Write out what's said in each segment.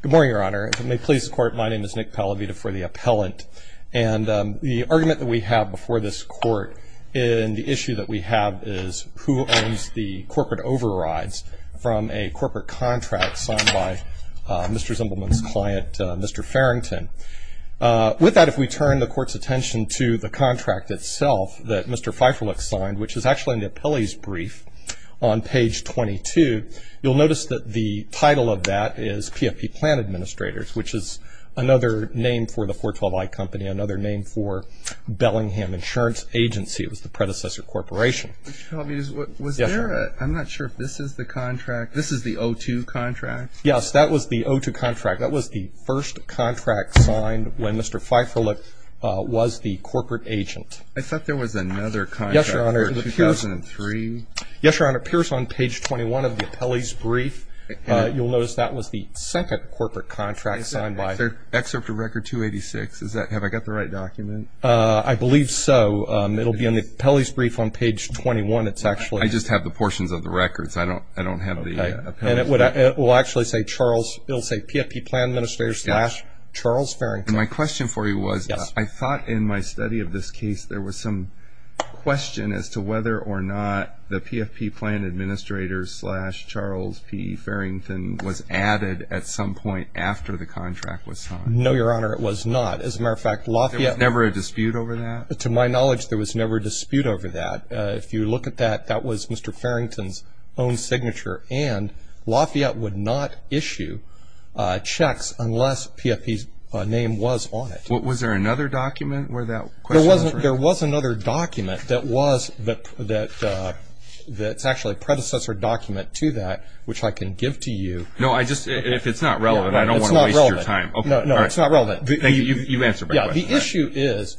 Good morning, Your Honor. If it may please the Court, my name is Nick Pallavita for the Appellant. And the argument that we have before this Court in the issue that we have is who owns the corporate overrides from a corporate contract signed by Mr. Zimbelman's client, Mr. Farrington. With that, if we turn the Court's attention to the contract itself that Mr. Pfeifferlich signed, which is actually in the appellee's brief on page 22, you'll notice that the title of that is PFP Plan Administrators, which is another name for the 412i company, another name for Bellingham Insurance Agency. It was the predecessor corporation. I'm not sure if this is the contract. This is the 02 contract? Yes, that was the 02 contract. That was the first contract signed when Mr. Pfeifferlich was the corporate agent. I thought there was another contract for 2003. Yes, Your Honor. It appears on page 21 of the appellee's brief. You'll notice that was the second corporate contract signed by... Is there excerpt of record 286? Have I got the right document? I believe so. It'll be in the appellee's brief on page 21. It's actually... I just have the portions of the records. I don't have the appellee's brief. And it will actually say PFP Plan Administrators slash Charles Farrington. My question for you was, I thought in my study of this case, there was some question as to whether or not the PFP Plan Administrators slash Charles P. Farrington was added at some point after the contract was signed. No, Your Honor. It was not. As a matter of fact, Lafayette... There was never a dispute over that? To my knowledge, there was never a dispute over that. If you look at that, that was Mr. Farrington's own signature. And Lafayette would not issue checks unless PFP's name was on it. Was there another document where that question was raised? There was another document that was... that's actually a predecessor document to that, which I can give to you. No, I just... if it's not relevant, I don't want to waste your time. It's not relevant. No, it's not relevant. You've answered my question. The issue is,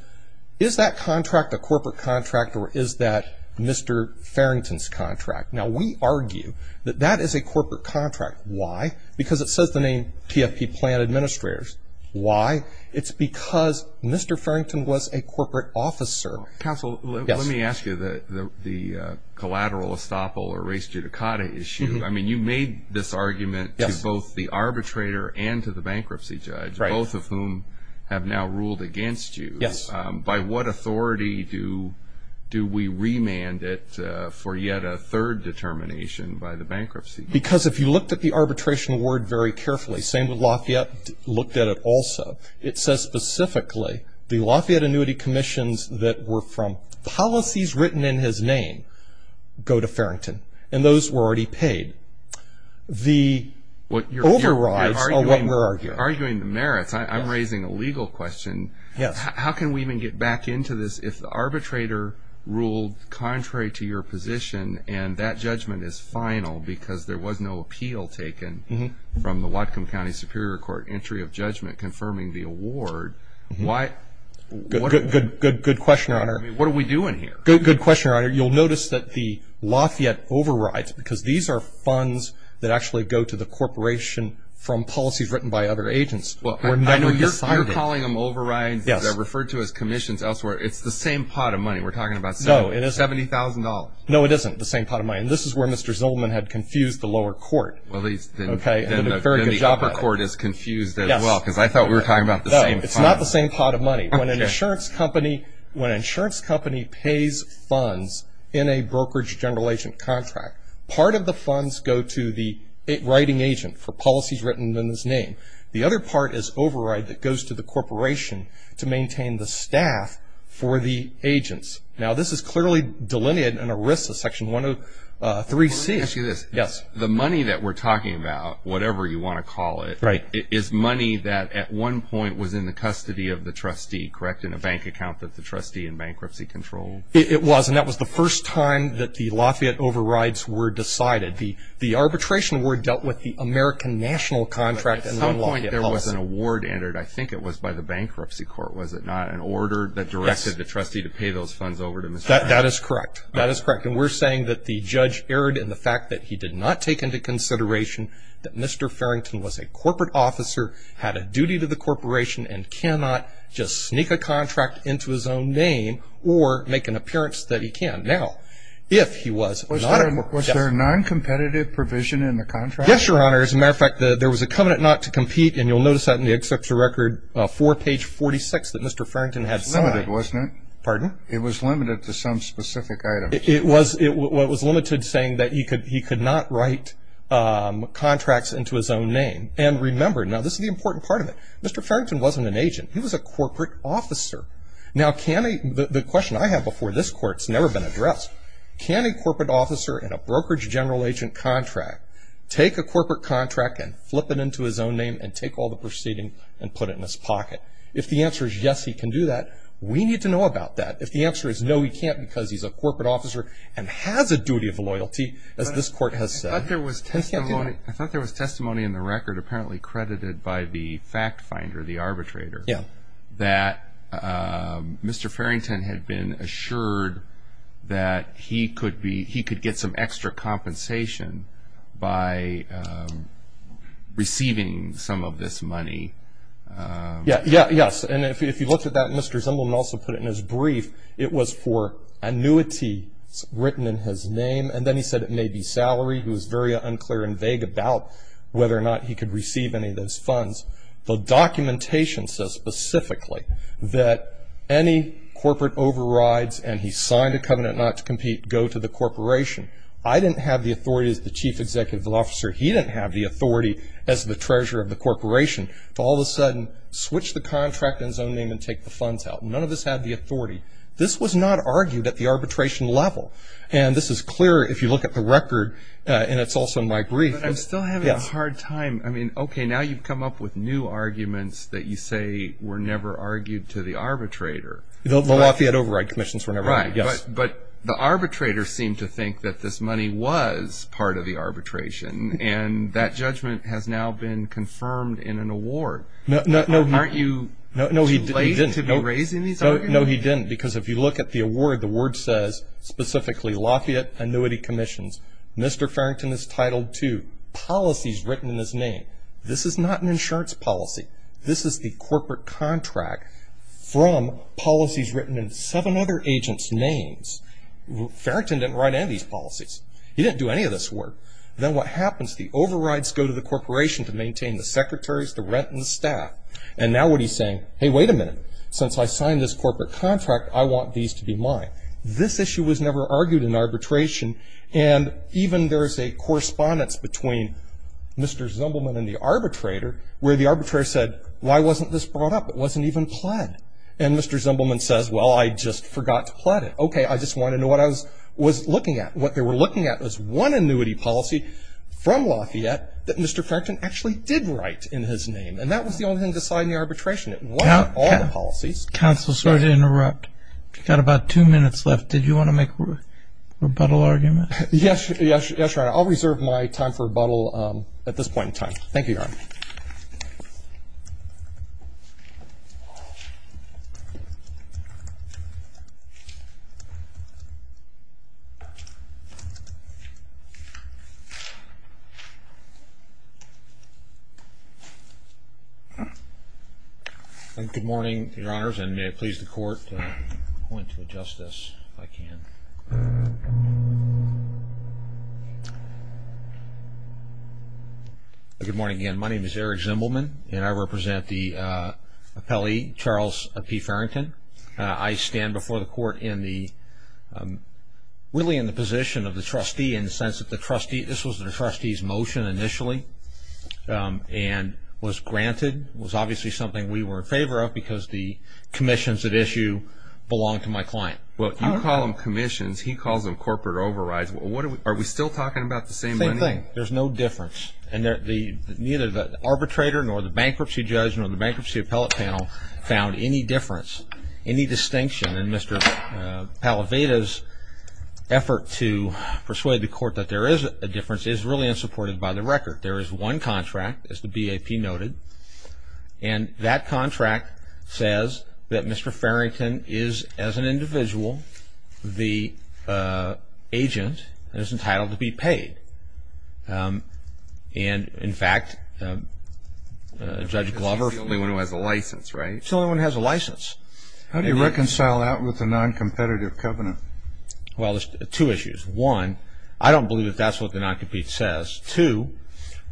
is that contract a corporate contract or is that Mr. Farrington's contract? Now, we argue that that is a corporate contract. Why? Because it says the name PFP Plan Administrators. Why? It's because Mr. Farrington was a corporate officer. Counsel, let me ask you the collateral estoppel or res judicata issue. I mean, you made this argument to both the arbitrator and to the bankruptcy judge, both of whom have now ruled against you. Yes. By what authority do we remand it for yet a third determination by the bankruptcy judge? Because if you looked at the arbitration award very carefully, same with Lafayette, looked at it also, it says specifically the Lafayette Annuity Commissions that were from policies written in his name go to Farrington. And those were already paid. The overrides are what we're arguing. You're arguing the merits. I'm raising a legal question. Yes. How can we even get back into this if the arbitrator ruled contrary to your position and that judgment is final because there was no appeal taken from the Whatcom County Superior Court entry of judgment confirming the award? Good question, Your Honor. I mean, what are we doing here? Good question, Your Honor. You'll notice that the Lafayette overrides, because these are funds that actually go to the corporation from policies written by other agents. I know you're calling them overrides. Yes. They're referred to as commissions elsewhere. It's the same pot of money. We're talking about $70,000. No, it isn't the same pot of money. And this is where Mr. Zillman had confused the lower court. Well, then the upper court is confused as well because I thought we were talking about the same fund. No, it's not the same pot of money. When an insurance company pays funds in a brokerage general agent contract, part of the funds go to the writing agent for policies written in his name. The other part is override that goes to the corporation to maintain the staff for the agents. Now, this is clearly delineated in ERISA Section 103C. Let me ask you this. Yes. The money that we're talking about, whatever you want to call it, is money that at one point was in the custody of the trustee, correct, in a bank account that the trustee in bankruptcy controlled? It was, and that was the first time that the Lafayette overrides were decided. The arbitration award dealt with the American national contract and the Lafayette policy. But at some point there was an award entered. I think it was by the bankruptcy court, was it not, an order that directed the trustee to pay those funds over to Mr. Farrington? That is correct. That is correct. And we're saying that the judge erred in the fact that he did not take into consideration that Mr. Farrington was a corporate officer, had a duty to the corporation, and cannot just sneak a contract into his own name or make an appearance that he can. Now, if he was not a corporate officer. Was there a noncompetitive provision in the contract? Yes, Your Honor. As a matter of fact, there was a covenant not to compete, and you'll notice that in the Excerpt to Record 4, page 46, that Mr. Farrington had signed. It was limited, wasn't it? Pardon? It was limited to some specific item. It was limited saying that he could not write contracts into his own name. And remember, now this is the important part of it, Mr. Farrington wasn't an agent. He was a corporate officer. Now, the question I have before this court has never been addressed. Can a corporate officer in a brokerage general agent contract take a corporate contract and flip it into his own name and take all the proceeding and put it in his pocket? If the answer is yes, he can do that, we need to know about that. If the answer is no, he can't because he's a corporate officer and has a duty of loyalty, as this court has said. I thought there was testimony in the record apparently credited by the fact finder, the arbitrator, that Mr. Farrington had been assured that he could get some extra compensation by receiving some of this money. Yes, and if you looked at that, Mr. Zimbelman also put it in his brief. It was for annuity written in his name, and then he said it may be salary. He was very unclear and vague about whether or not he could receive any of those funds. The documentation says specifically that any corporate overrides, and he signed a covenant not to compete, go to the corporation. I didn't have the authority as the chief executive officer. He didn't have the authority as the treasurer of the corporation to all of a sudden switch the contract in his own name and take the funds out. None of us had the authority. This was not argued at the arbitration level, and this is clear if you look at the record, and it's also in my brief. But I'm still having a hard time. I mean, okay, now you've come up with new arguments that you say were never argued to the arbitrator. The Lafayette override commissions were never argued, yes. But the arbitrator seemed to think that this money was part of the arbitration, and that judgment has now been confirmed in an award. Aren't you too late to be raising these arguments? No, he didn't, because if you look at the award, the word says specifically, Lafayette annuity commissions. Mr. Farrington is titled to policies written in his name. This is not an insurance policy. This is the corporate contract from policies written in seven other agents' names. Farrington didn't write any of these policies. He didn't do any of this work. Then what happens? The overrides go to the corporation to maintain the secretaries, the rent, and the staff. And now what he's saying, hey, wait a minute. Since I signed this corporate contract, I want these to be mine. This issue was never argued in arbitration, and even there is a correspondence between Mr. Zumbleman and the arbitrator where the arbitrator said, why wasn't this brought up? It wasn't even pled. And Mr. Zumbleman says, well, I just forgot to pled it. Okay, I just wanted to know what I was looking at. What they were looking at was one annuity policy from Lafayette that Mr. Farrington actually did write in his name, and that was the only thing to sign the arbitration. It wasn't all the policies. Counsel, sorry to interrupt. You've got about two minutes left. Did you want to make a rebuttal argument? Yes, Your Honor. I'll reserve my time for rebuttal at this point in time. Thank you, Your Honor. Good morning, Your Honors, and may it please the Court to adjust this if I can. Good morning again. My name is Eric Zumbleman, and I represent the appellee, Charles P. Farrington. I stand before the Court really in the position of the trustee in the sense that this was the trustee's motion initially and was granted. It was obviously something we were in favor of because the commissions at issue belonged to my client. Well, you call them commissions. He calls them corporate overrides. Are we still talking about the same money? Same thing. There's no difference, and neither the arbitrator nor the bankruptcy judge nor the bankruptcy appellate panel found any difference, any distinction. And Mr. Pallaveda's effort to persuade the Court that there is a difference is really unsupported by the record. There is one contract, as the BAP noted, and that contract says that Mr. Farrington is, as an individual, the agent that is entitled to be paid. And, in fact, Judge Glover ---- He's the only one who has a license, right? He's the only one who has a license. How do you reconcile that with the noncompetitive covenant? Well, there's two issues. One, I don't believe that that's what the noncompete says. Two,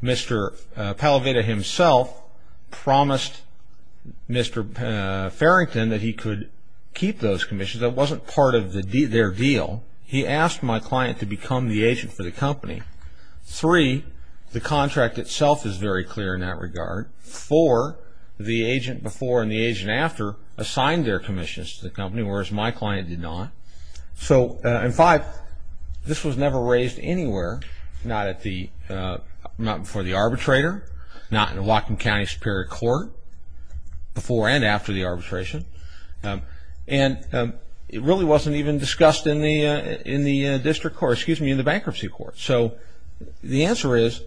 Mr. Pallaveda himself promised Mr. Farrington that he could keep those commissions. That wasn't part of their deal. He asked my client to become the agent for the company. Three, the contract itself is very clear in that regard. Four, the agent before and the agent after assigned their commissions to the company, whereas my client did not. So, and five, this was never raised anywhere, not before the arbitrator, not in the Whatcom County Superior Court before and after the arbitration. And it really wasn't even discussed in the district court, excuse me, in the bankruptcy court. So the answer is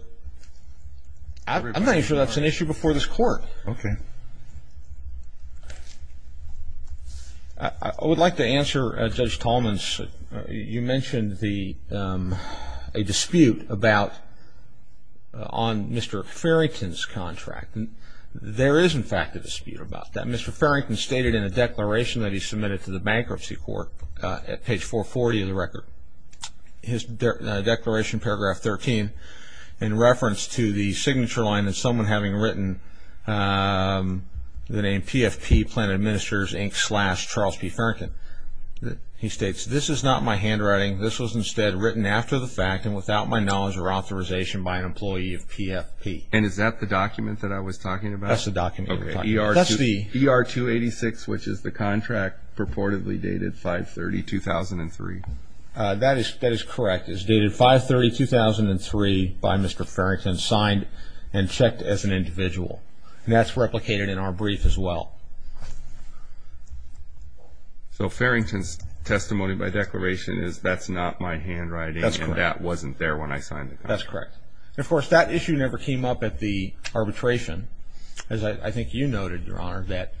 I'm not even sure that's an issue before this court. Okay. I would like to answer Judge Tallman's. You mentioned a dispute about on Mr. Farrington's contract. There is, in fact, a dispute about that. Mr. Farrington stated in a declaration that he submitted to the bankruptcy court at page 440 of the record, his declaration, paragraph 13, in reference to the signature line and someone having written the name PFP, Planned Ministers, Inc. slash Charles P. Farrington. He states, this is not my handwriting. This was instead written after the fact and without my knowledge or authorization by an employee of PFP. And is that the document that I was talking about? That's the document. That's the ER-286, which is the contract purportedly dated 5-30-2003. That is correct. That contract is dated 5-30-2003 by Mr. Farrington, signed and checked as an individual. And that's replicated in our brief as well. So Farrington's testimony by declaration is that's not my handwriting. That's correct. And that wasn't there when I signed the contract. That's correct. And, of course, that issue never came up at the arbitration. As I think you noted, Your Honor, that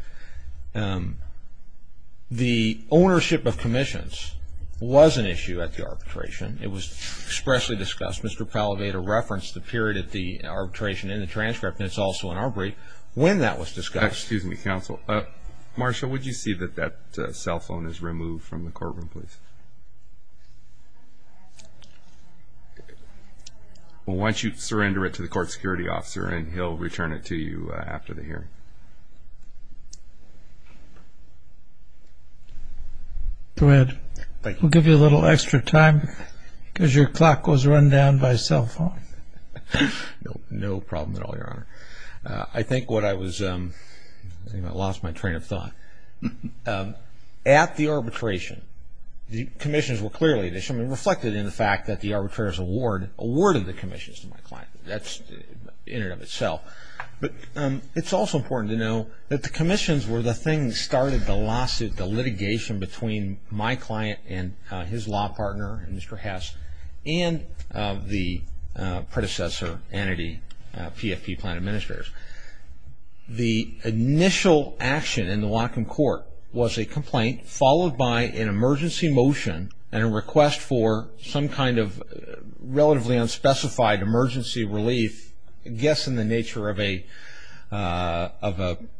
the ownership of commissions was an issue at the arbitration. It was expressly discussed. Mr. Palladato referenced the period at the arbitration in the transcript, and it's also in our brief, when that was discussed. Excuse me, counsel. Marshall, would you see that that cell phone is removed from the courtroom, please? Well, why don't you surrender it to the court security officer, and he'll return it to you after the hearing. Go ahead. Thank you. We'll give you a little extra time because your clock was run down by cell phone. No problem at all, Your Honor. I think what I was – I think I lost my train of thought. At the arbitration, the commissions were clearly an issue. It reflected in the fact that the arbitrators awarded the commissions to my client. That's in and of itself. But it's also important to know that the commissions were the thing that started the lawsuit, the litigation between my client and his law partner, Mr. Hess, and the predecessor entity, PFP, Planned Administrators. The initial action in the Whatcom court was a complaint, followed by an emergency motion and a request for some kind of relatively unspecified emergency relief, I guess in the nature of a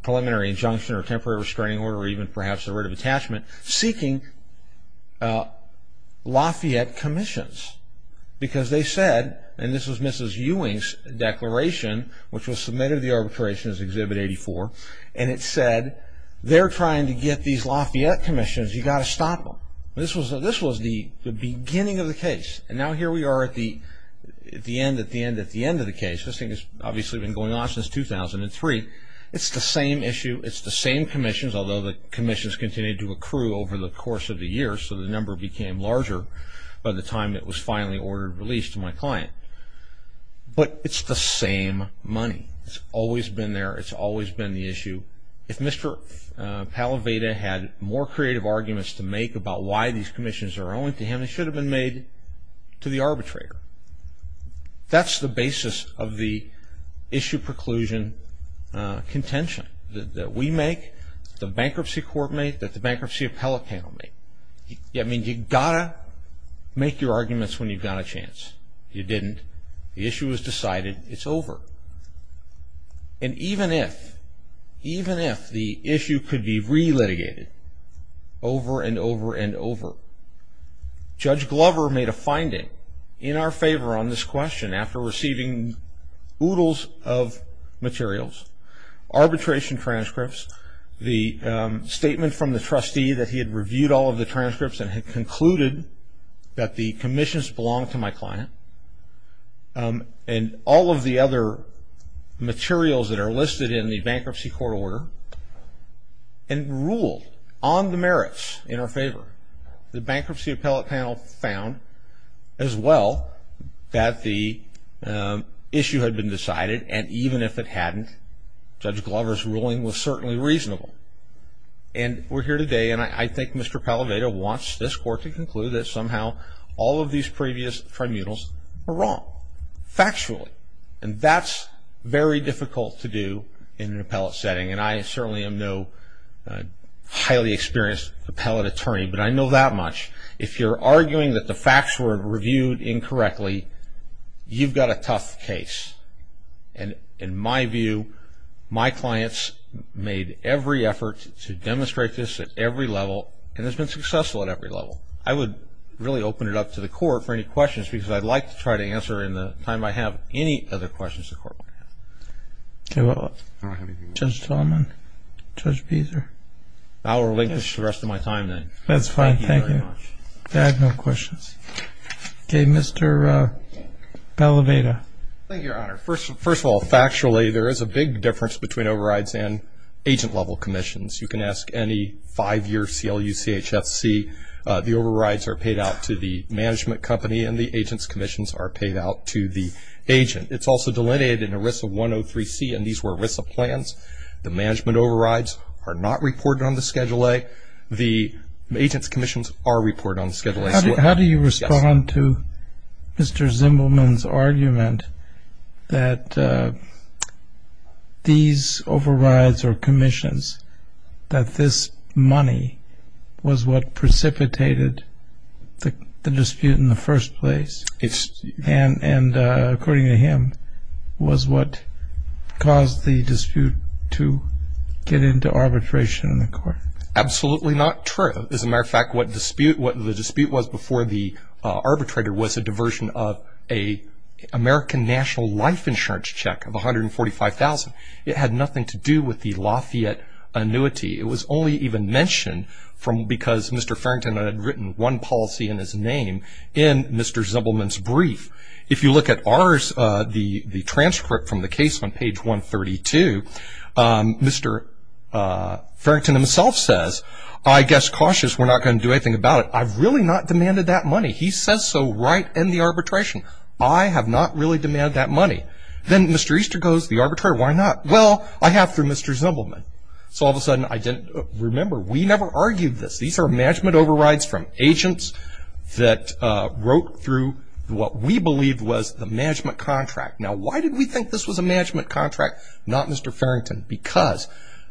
preliminary injunction or temporary restraining order or even perhaps a writ of attachment, seeking Lafayette commissions because they said, and this was Mrs. Ewing's declaration, which was submitted to the arbitration as Exhibit 84, and it said they're trying to get these Lafayette commissions. You've got to stop them. This was the beginning of the case. And now here we are at the end of the case. This thing has obviously been going on since 2003. It's the same issue. It's the same commissions, although the commissions continued to accrue over the course of the year, so the number became larger by the time it was finally ordered released to my client. But it's the same money. It's always been there. It's always been the issue. If Mr. Pallaveda had more creative arguments to make about why these commissions are owing to him, they should have been made to the arbitrator. That's the basis of the issue preclusion contention that we make, that the bankruptcy court make, that the bankruptcy appellate panel make. I mean, you've got to make your arguments when you've got a chance. You didn't. The issue was decided. It's over. And even if, even if the issue could be re-litigated over and over and over, Judge Glover made a finding in our favor on this question after receiving oodles of materials, arbitration transcripts, the statement from the trustee that he had reviewed all of the transcripts and had concluded that the commissions belonged to my client, and all of the other materials that are listed in the bankruptcy court order, and ruled on the merits in our favor, the bankruptcy appellate panel found as well that the issue had been decided, and even if it hadn't, Judge Glover's ruling was certainly reasonable. And we're here today, and I think Mr. Palladato wants this court to conclude that somehow all of these previous tribunals were wrong, factually. And that's very difficult to do in an appellate setting, and I certainly am no highly experienced appellate attorney, but I know that much. If you're arguing that the facts were reviewed incorrectly, you've got a tough case. And in my view, my clients made every effort to demonstrate this at every level, and it's been successful at every level. I would really open it up to the court for any questions, because I'd like to try to answer in the time I have any other questions the court might have. Okay, well, Judge Tillman, Judge Beazer. I will relinquish the rest of my time then. That's fine, thank you. Thank you very much. I have no questions. Okay, Mr. Bellaveda. Thank you, Your Honor. First of all, factually, there is a big difference between overrides and agent-level commissions. You can ask any five-year CLU, CHFC, the overrides are paid out to the management company and the agent's commissions are paid out to the agent. It's also delineated in ERISA 103C, and these were ERISA plans. The management overrides are not reported on the Schedule A. The agent's commissions are reported on the Schedule A. How do you respond to Mr. Zimbelman's argument that these overrides or commissions, that this money was what precipitated the dispute in the first place, and according to him, was what caused the dispute to get into arbitration in the court? Absolutely not true. As a matter of fact, what the dispute was before the arbitrator was a diversion of an American National Life Insurance check of $145,000. It had nothing to do with the Lafayette annuity. It was only even mentioned because Mr. Farrington had written one policy in his name in Mr. Zimbelman's brief. If you look at the transcript from the case on page 132, Mr. Farrington himself says, I guess cautious, we're not going to do anything about it. I've really not demanded that money. He says so right in the arbitration. I have not really demanded that money. Then Mr. Easter goes, the arbitrator, why not? Well, I have through Mr. Zimbelman. So all of a sudden I didn't remember. We never argued this. These are management overrides from agents that wrote through what we believed was the management contract. Now, why did we think this was a management contract, not Mr. Farrington? Because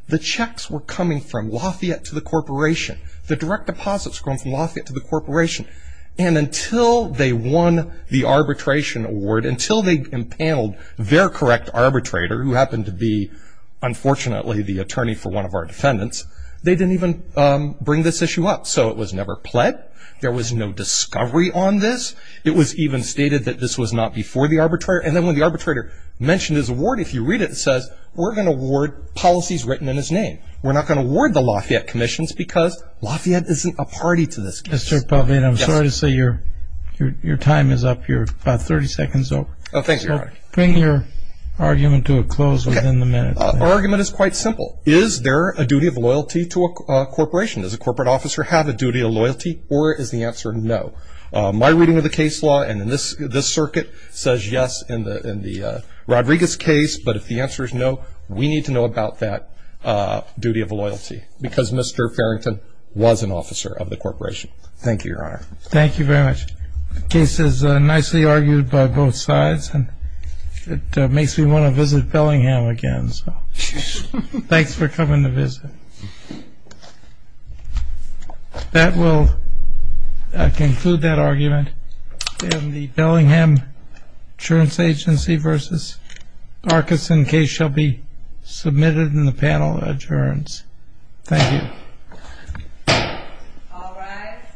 the checks were coming from Lafayette to the corporation. The direct deposits were coming from Lafayette to the corporation, and until they won the arbitration award, until they impaneled their correct arbitrator, who happened to be, unfortunately, the attorney for one of our defendants, they didn't even bring this issue up. So it was never pled. There was no discovery on this. It was even stated that this was not before the arbitrator. And then when the arbitrator mentioned his award, if you read it, it says, we're going to award policies written in his name. We're not going to award the Lafayette commissions because Lafayette isn't a party to this case. Mr. Pavlin, I'm sorry to say your time is up. You're about 30 seconds over. Oh, thank you. Bring your argument to a close within the minute. Okay. Our argument is quite simple. Is there a duty of loyalty to a corporation? Does a corporate officer have a duty of loyalty, or is the answer no? My reading of the case law and this circuit says yes in the Rodriguez case, but if the answer is no, we need to know about that duty of loyalty, because Mr. Farrington was an officer of the corporation. Thank you, Your Honor. Thank you very much. The case is nicely argued by both sides, and it makes me want to visit Bellingham again. Thanks for coming to visit. That will conclude that argument. The Bellingham Insurance Agency v. Parkinson case shall be submitted in the panel of adjournance. Thank you. All rise.